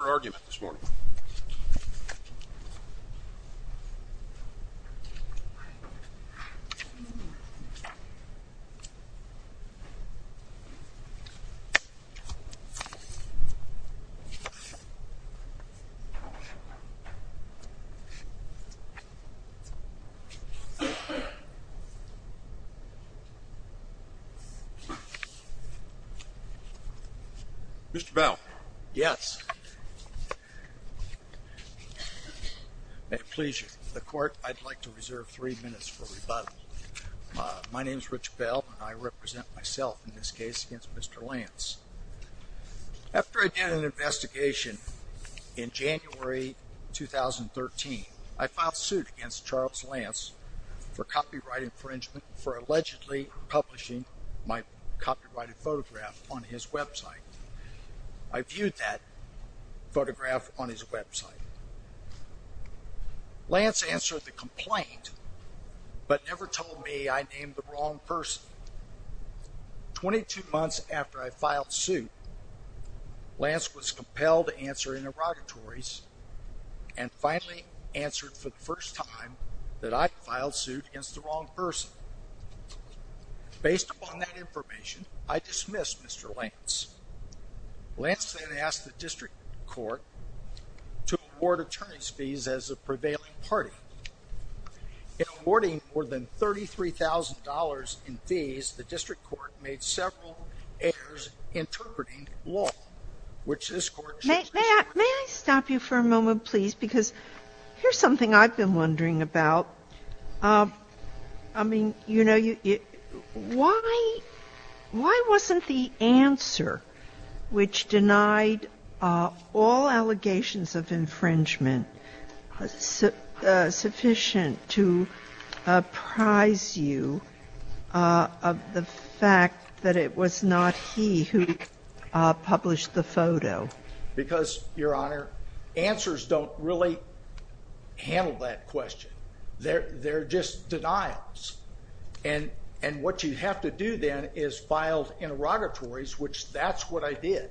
Your argument this morning. Mr. Bell? Yes. With pleasure. The court, I'd like to reserve three minutes for rebuttal. My name is Rich Bell and I represent myself in this case against Mr. Lantz. After I did an investigation in January 2013, I filed suit against Charles Lantz for copyright infringement for allegedly publishing my copyrighted photograph on his website. I viewed that photograph on his website. Lantz answered the complaint but never told me I named the wrong person. Twenty-two months after I filed suit, Lantz was compelled to answer interrogatories and finally answered for the first time that I filed suit against the wrong person. Based upon that information, I dismissed Mr. Lantz. Lantz then asked the district court to award attorney's fees as a prevailing party. In awarding more than $33,000 in fees, the district court made several errors interpreting law, which this court... May I stop you for a moment, please? Because here's something I've been wondering about. I mean, you know, why wasn't the answer, which denied all allegations of infringement, sufficient to apprise you of the fact that it was not he who published the photo? Because, Your Honor, answers don't really handle that question. They're just denials. And what you have to do then is file interrogatories, which that's what I did,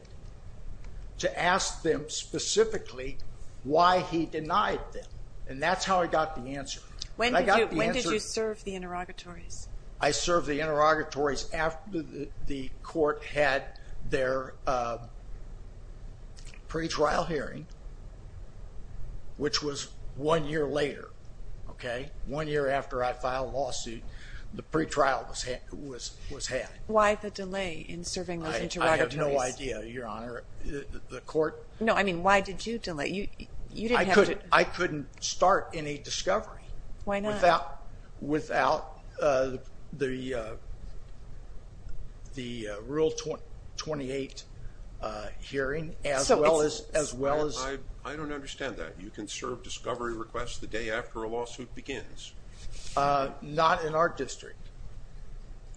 to ask them specifically why he denied them. And that's how I got the answer. When did you serve the interrogatories? I served the interrogatories after the court had their pretrial hearing, which was one year later. Okay? One year after I filed a lawsuit, the pretrial was had. Why the delay in serving those interrogatories? I have no idea, Your Honor. The court... No, I mean, why did you delay? You didn't have to... I couldn't start any discovery. Why not? Without the Rule 28 hearing, as well as... I don't understand that. You can serve discovery requests the day after a lawsuit begins. Not in our district.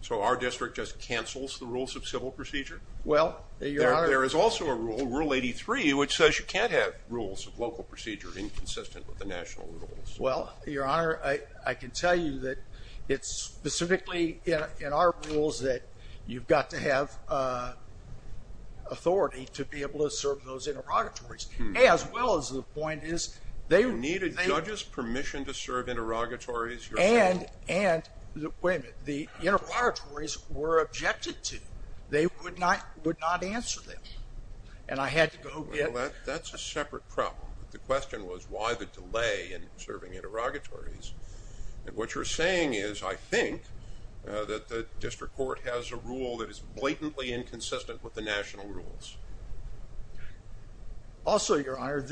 So our district just cancels the rules of civil procedure? Well, Your Honor... There is also a rule, Rule 83, which says you can't have rules of local procedure inconsistent with the national rules. Well, Your Honor, I can tell you that it's specifically in our rules that you've got to have authority to be able to serve those interrogatories, as well as the point is they... You needed judges' permission to serve interrogatories? And, wait a minute, the interrogatories were objected to. They would not answer them. And I had to go get... Well, that's a separate problem. The question was why the delay in serving interrogatories. And what you're saying is, I think, that the district court has a rule that is blatantly inconsistent with the national rules. Also, Your Honor,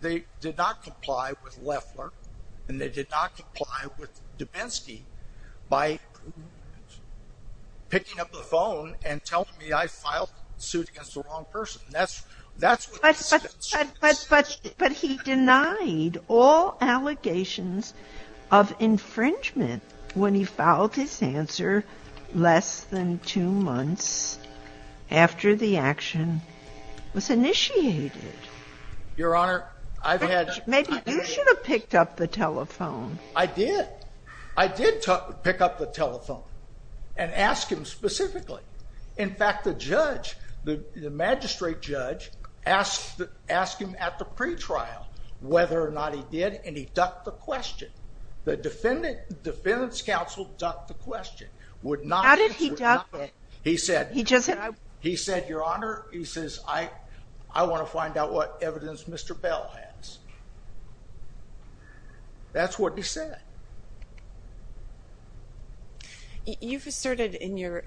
they did not comply with Loeffler, and they did not comply with Dubinsky by picking up the phone and telling me I filed a suit against the wrong person. But he denied all allegations of infringement when he filed his answer less than two months after the action was initiated. Your Honor, I've had... Maybe you should have picked up the telephone. I did. I did pick up the telephone and ask him specifically. In fact, the judge, the magistrate judge, asked him at the pretrial whether or not he did, and he ducked the question. The defendant's counsel ducked the question. How did he duck it? He said, Your Honor, he says, I want to find out what evidence Mr. Bell has. That's what he said. You've asserted in your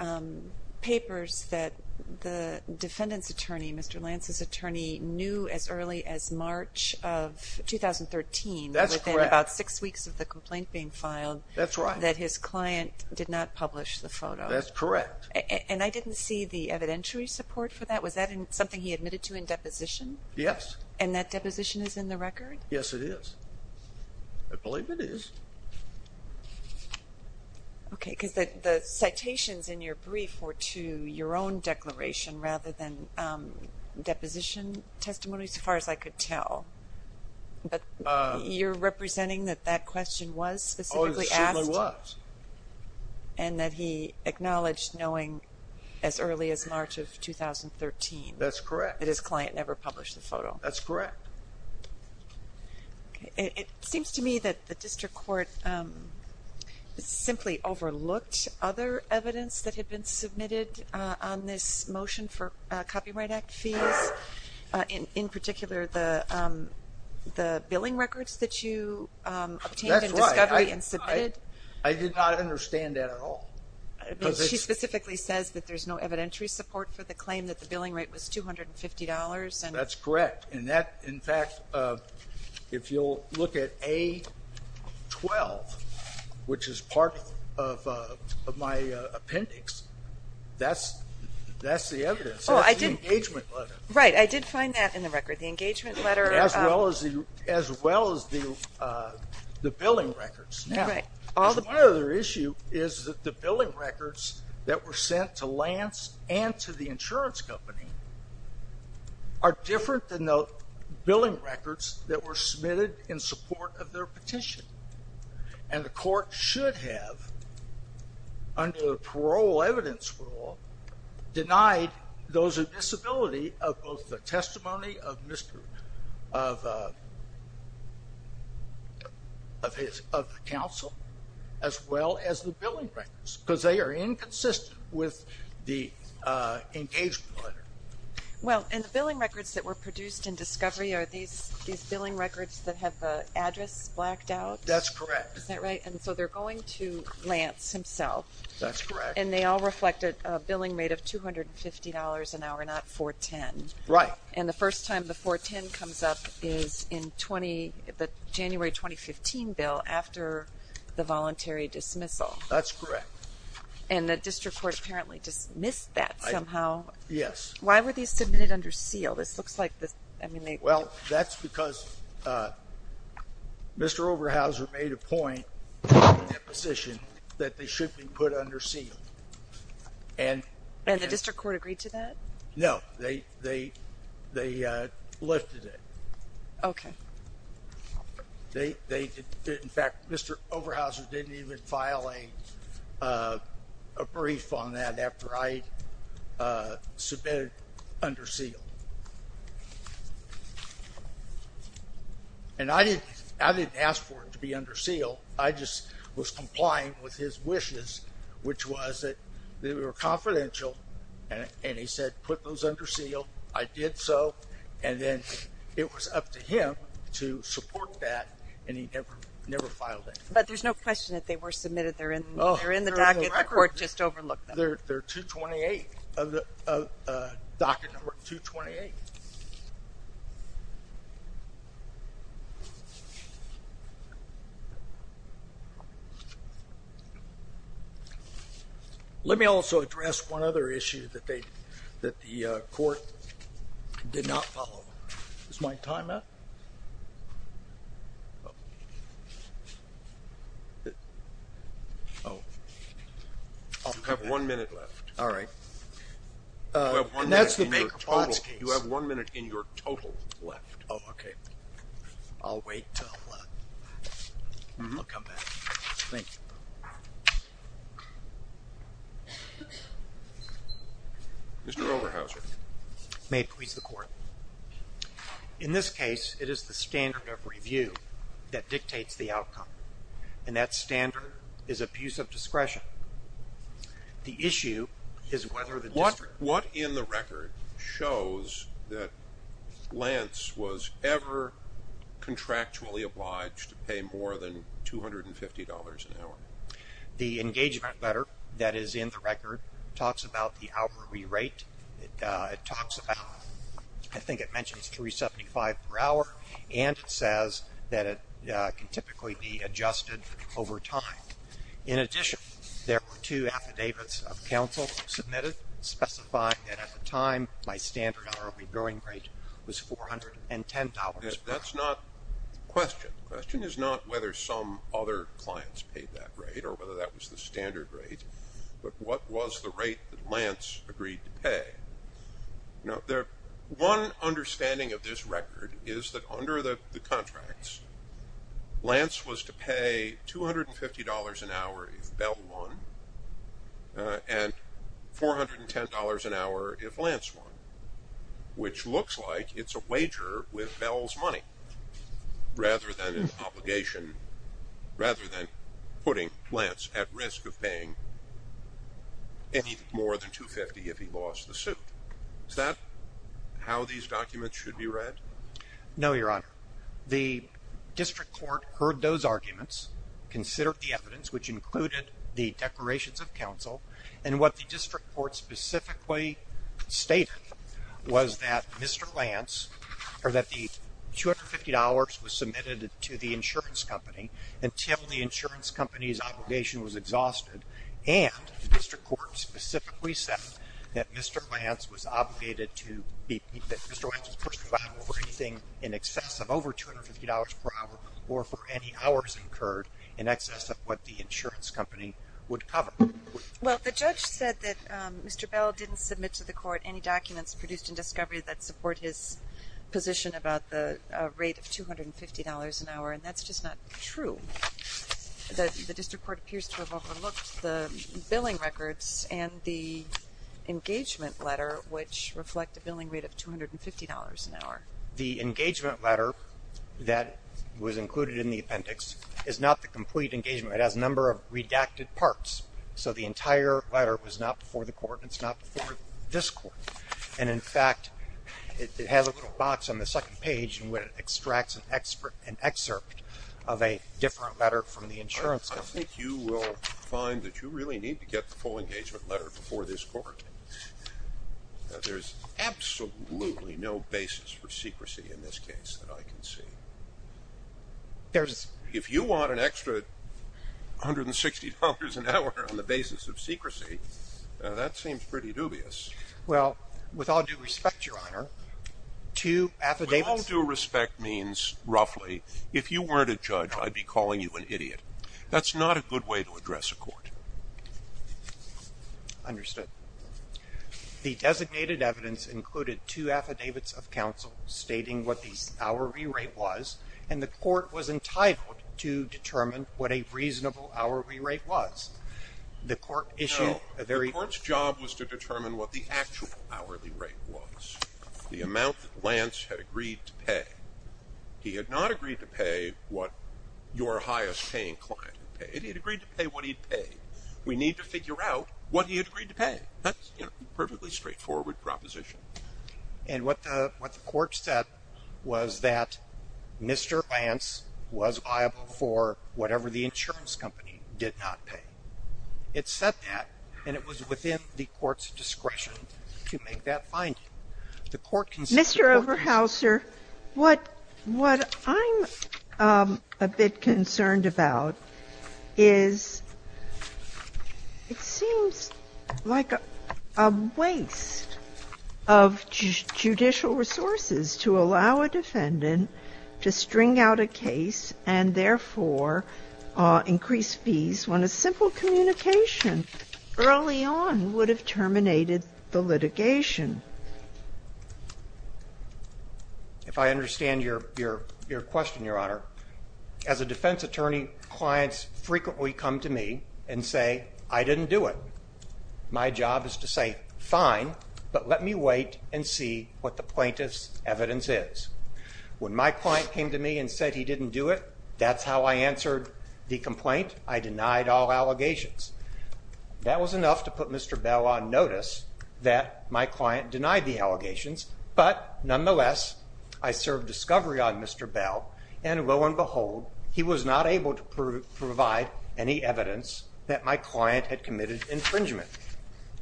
papers that the defendant's attorney, Mr. Lance's attorney, knew as early as March of 2013, within about six weeks of the complaint being filed, that his client did not publish the photo. That's correct. And I didn't see the evidentiary support for that. Was that something he admitted to in deposition? Yes. And that deposition is in the record? Yes, it is. I believe it is. Okay, because the citations in your brief were to your own declaration rather than deposition testimony, as far as I could tell. But you're representing that that question was specifically asked? Oh, it certainly was. And that he acknowledged knowing as early as March of 2013? That's correct. That his client never published the photo? That's correct. It seems to me that the district court simply overlooked other evidence that had been submitted on this motion for Copyright Act fees, in particular the billing records that you obtained in discovery and submitted. That's right. I did not understand that at all. She specifically says that there's no evidentiary support for the claim that the billing rate was $250. That's correct. In fact, if you'll look at A12, which is part of my appendix, that's the evidence. That's the engagement letter. Right. I did find that in the record, the engagement letter. As well as the billing records. Right. My other issue is that the billing records that were sent to Lance and to the insurance company are different than the billing records that were submitted in support of their petition. And the court should have, under the parole evidence rule, denied those with disability of both the testimony of the counsel as well as the billing records. Because they are inconsistent with the engagement letter. Well, and the billing records that were produced in discovery, are these billing records that have the address blacked out? That's correct. Is that right? And so they're going to Lance himself. That's correct. And they all reflected a billing rate of $250 an hour, not 410. Right. And the first time the 410 comes up is in the January 2015 bill after the voluntary dismissal. That's correct. And the district court apparently dismissed that somehow. Yes. Why were these submitted under seal? Well, that's because Mr. Overhauser made a point in that position that they should be put under seal. And the district court agreed to that? No. They lifted it. Okay. In fact, Mr. Overhauser didn't even file a brief on that after I submitted under seal. And I didn't ask for it to be under seal. I just was complying with his wishes, which was that they were confidential. And he said, put those under seal. I did so. And then it was up to him to support that, and he never filed it. But there's no question that they were submitted. They're in the docket. The court just overlooked them. They're 228, docket number 228. Okay. Let me also address one other issue that the court did not follow. Is my time up? You have one minute left. All right. You have one minute in your total left. Oh, okay. I'll wait until I come back. Thank you. Mr. Overhauser. May it please the court. In this case, it is the standard of review that dictates the outcome. And that standard is abuse of discretion. The issue is whether the district. What in the record shows that Lance was ever contractually obliged to pay more than $250 an hour? The engagement letter that is in the record talks about the hour re-rate. It talks about, I think it mentions 375 per hour, and it says that it can typically be adjusted over time. In addition, there were two affidavits of counsel submitted specifying that at the time, my standard hourly growing rate was $410. That's not the question. The question is not whether some other clients paid that rate or whether that was the standard rate, but what was the rate that Lance agreed to pay? Now, one understanding of this record is that under the contracts, Lance was to pay $250 an hour if Bell won and $410 an hour if Lance won, which looks like it's a wager with Bell's money rather than an obligation, rather than putting Lance at risk of paying any more than $250 if he lost the suit. Is that how these documents should be read? No, Your Honor. The district court heard those arguments, considered the evidence, which included the declarations of counsel, and what the district court specifically stated was that Mr. Lance, or that the $250 was submitted to the insurance company until the insurance company's obligation was exhausted, and the district court specifically said that Mr. Lance was obligated to be, that Mr. Lance was personally liable for anything in excess of over $250 per hour or for any hours incurred in excess of what the insurance company would cover. Well, the judge said that Mr. Bell didn't submit to the court any documents produced in discovery that support his position about the rate of $250 an hour, and that's just not true. The district court appears to have overlooked the billing records and the engagement letter, which reflect a billing rate of $250 an hour. The engagement letter that was included in the appendix is not the complete engagement. It has a number of redacted parts, so the entire letter was not before the court and it's not before this court. And, in fact, it has a little box on the second page where it extracts an excerpt of a different letter from the insurance company. I don't think you will find that you really need to get the full engagement letter before this court. There's absolutely no basis for secrecy in this case that I can see. If you want an extra $160 an hour on the basis of secrecy, that seems pretty dubious. Well, with all due respect, Your Honor, two affidavits... With all due respect means roughly, if you weren't a judge, I'd be calling you an idiot. That's not a good way to address a court. Understood. The designated evidence included two affidavits of counsel stating what the hourly rate was, and the court was entitled to determine what a reasonable hourly rate was. The court issued a very... No, the court's job was to determine what the actual hourly rate was, the amount that Lance had agreed to pay. He had not agreed to pay what your highest-paying client had paid. He had agreed to pay what he'd pay. We need to figure out what he had agreed to pay. That's a perfectly straightforward proposition. And what the court said was that Mr. Lance was liable for whatever the insurance company did not pay. It said that, and it was within the court's discretion to make that finding. Mr. Oberhauser, what I'm a bit concerned about is it seems like a waste of judicial resources to allow a defendant to string out a case and, therefore, increase fees when a simple communication early on would have terminated the litigation. If I understand your question, Your Honor, as a defense attorney, clients frequently come to me and say, I didn't do it. My job is to say, fine, but let me wait and see what the plaintiff's evidence is. When my client came to me and said he didn't do it, that's how I answered the complaint. I denied all allegations. That was enough to put Mr. Bell on notice that my client denied the allegations. But, nonetheless, I served discovery on Mr. Bell, and lo and behold, he was not able to provide any evidence that my client had committed infringement.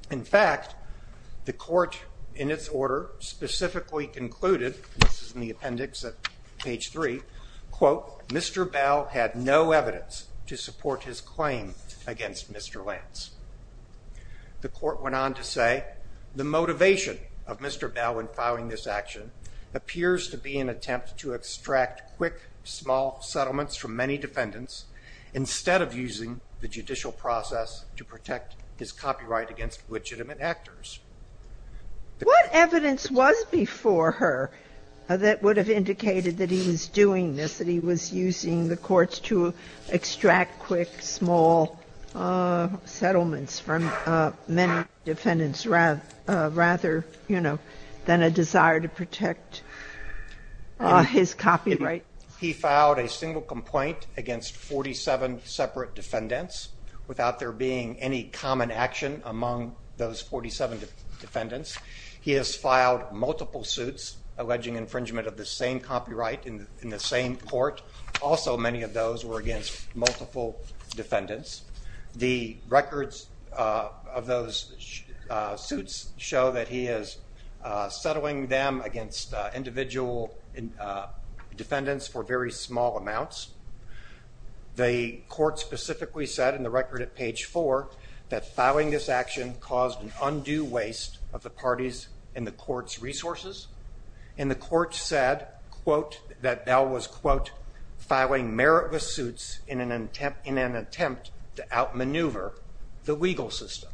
In fact, the court, in its order, specifically concluded, this is in the appendix at page 3, quote, Mr. Bell had no evidence to support his claim against Mr. Lance. The court went on to say the motivation of Mr. Bell in filing this action appears to be an attempt to extract quick, small settlements from many defendants instead of using the judicial process to protect his copyright against legitimate actors. What evidence was before her that would have indicated that he was doing this, that he was using the courts to extract quick, small settlements from many defendants rather than a desire to protect his copyright? He filed a single complaint against 47 separate defendants without there being any common action among those 47 defendants. He has filed multiple suits alleging infringement of the same copyright in the same court. Also, many of those were against multiple defendants. The records of those suits show that he is settling them against individual defendants for very small amounts. The court specifically said in the record at page 4 that filing this action caused an undue waste of the party's and the court's resources, and the court said, quote, that Bell was, quote, filing meritless suits in an attempt to outmaneuver the legal system.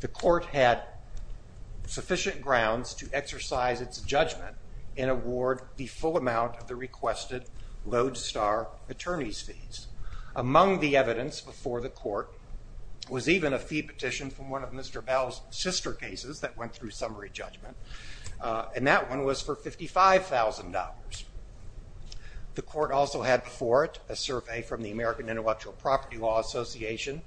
The court had sufficient grounds to exercise its judgment and award the full amount of the requested lodestar attorney's fees. Among the evidence before the court was even a fee petition from one of Mr. Bell's sister cases that went through summary judgment, and that one was for $55,000. The court also had before it a survey from the American Intellectual Property Law Association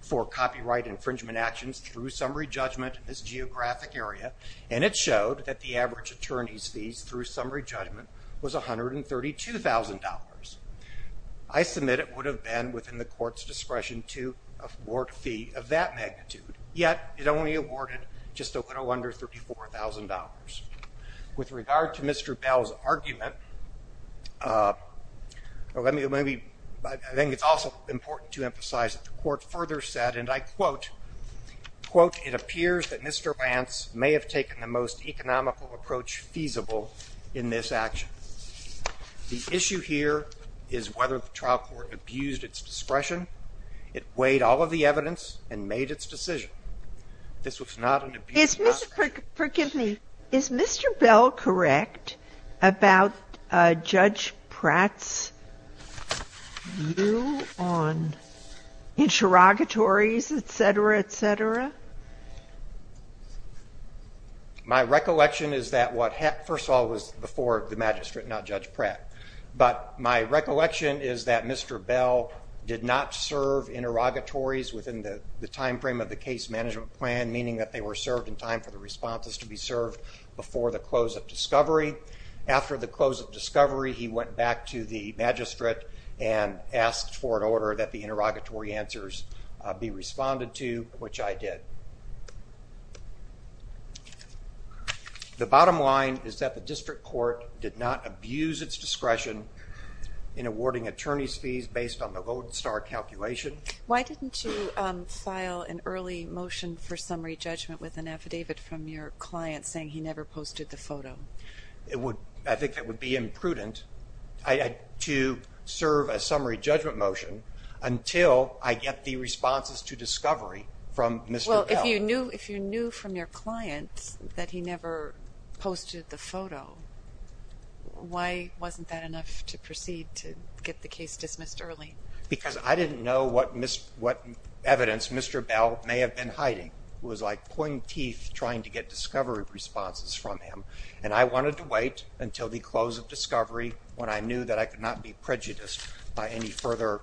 for copyright infringement actions through summary judgment in this geographic area, and it showed that the average attorney's fees through summary judgment was $132,000. I submit it would have been within the court's discretion to award a fee of that magnitude, yet it only awarded just a little under $34,000. With regard to Mr. Bell's argument, I think it's also important to emphasize that the court has taken the most economical approach feasible in this action. The issue here is whether the trial court abused its discretion. It weighed all of the evidence and made its decision. Is Mr. Bell correct about Judge Pratt's view on interrogatories, et cetera, et cetera? My recollection is that what first of all was before the magistrate, not Judge Pratt, but my recollection is that Mr. Bell did not serve interrogatories within the timeframe of the case management plan, meaning that they were served in time for the responses to be served before the close of discovery. After the close of discovery, he went back to the magistrate and asked for an order that the interrogatory answers be responded to, which I did. The bottom line is that the district court did not abuse its discretion in awarding attorney's fees based on the Lodestar calculation. Why didn't you file an early motion for summary judgment with an affidavit from your client saying he never posted the photo? I think that would be imprudent to serve a summary judgment motion until I get the responses to discovery from Mr. Bell. Well, if you knew from your client that he never posted the photo, why wasn't that enough to proceed to get the case dismissed early? Because I didn't know what evidence Mr. Bell may have been hiding. It was like pointy teeth trying to get discovery responses from him, and I wanted to wait until the close of discovery when I knew that I could not be prejudiced by any further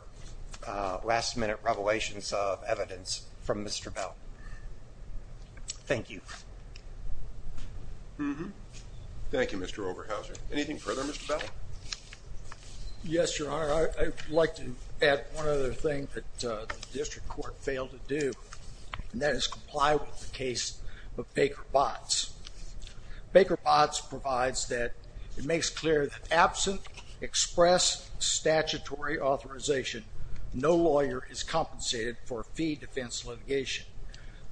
last-minute revelations of evidence from Mr. Bell. Thank you. Thank you, Mr. Oberhauser. Anything further, Mr. Bell? Yes, Your Honor. I'd like to add one other thing that the district court failed to do, and that is comply with the case of Baker-Botz. Baker-Botz provides that it makes clear that absent express statutory authorization, no lawyer is compensated for fee defense litigation.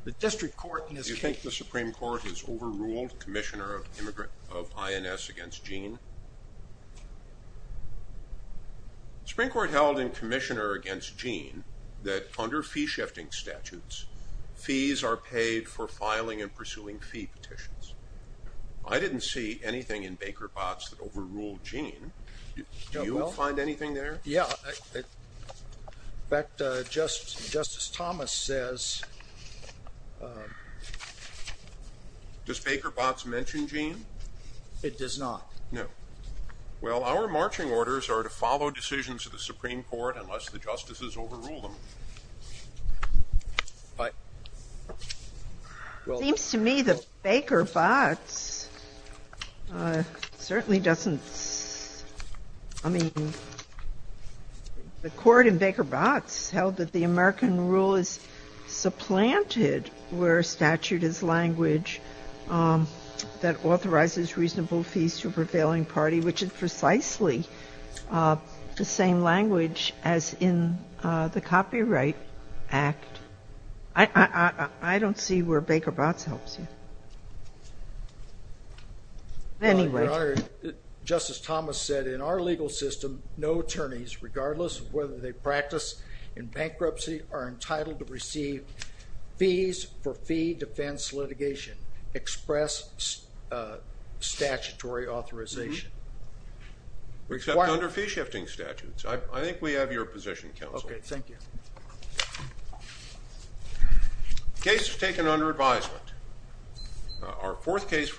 The district court in this case... Spring Court held in commissioner against Gene that under fee-shifting statutes, fees are paid for filing and pursuing fee petitions. I didn't see anything in Baker-Botz that overruled Gene. Do you find anything there? Yeah. In fact, Justice Thomas says... Does Baker-Botz mention Gene? It does not. No. Well, our marching orders are to follow decisions of the Supreme Court unless the justices overrule them. But... It seems to me that Baker-Botz certainly doesn't... I mean, the court in Baker-Botz held that the American rule is supplanted where statute is language that authorizes reasonable fees to a prevailing party, which is precisely the same language as in the Copyright Act. I don't see where Baker-Botz helps you. Anyway... Your Honor, Justice Thomas said in our legal system, no attorneys, regardless of whether they practice in bankruptcy, are entitled to receive fees for fee defense litigation, express statutory authorization. Except under fee-shifting statutes. I think we have your position, Counsel. Okay. Thank you. The case is taken under advisement. Our fourth case...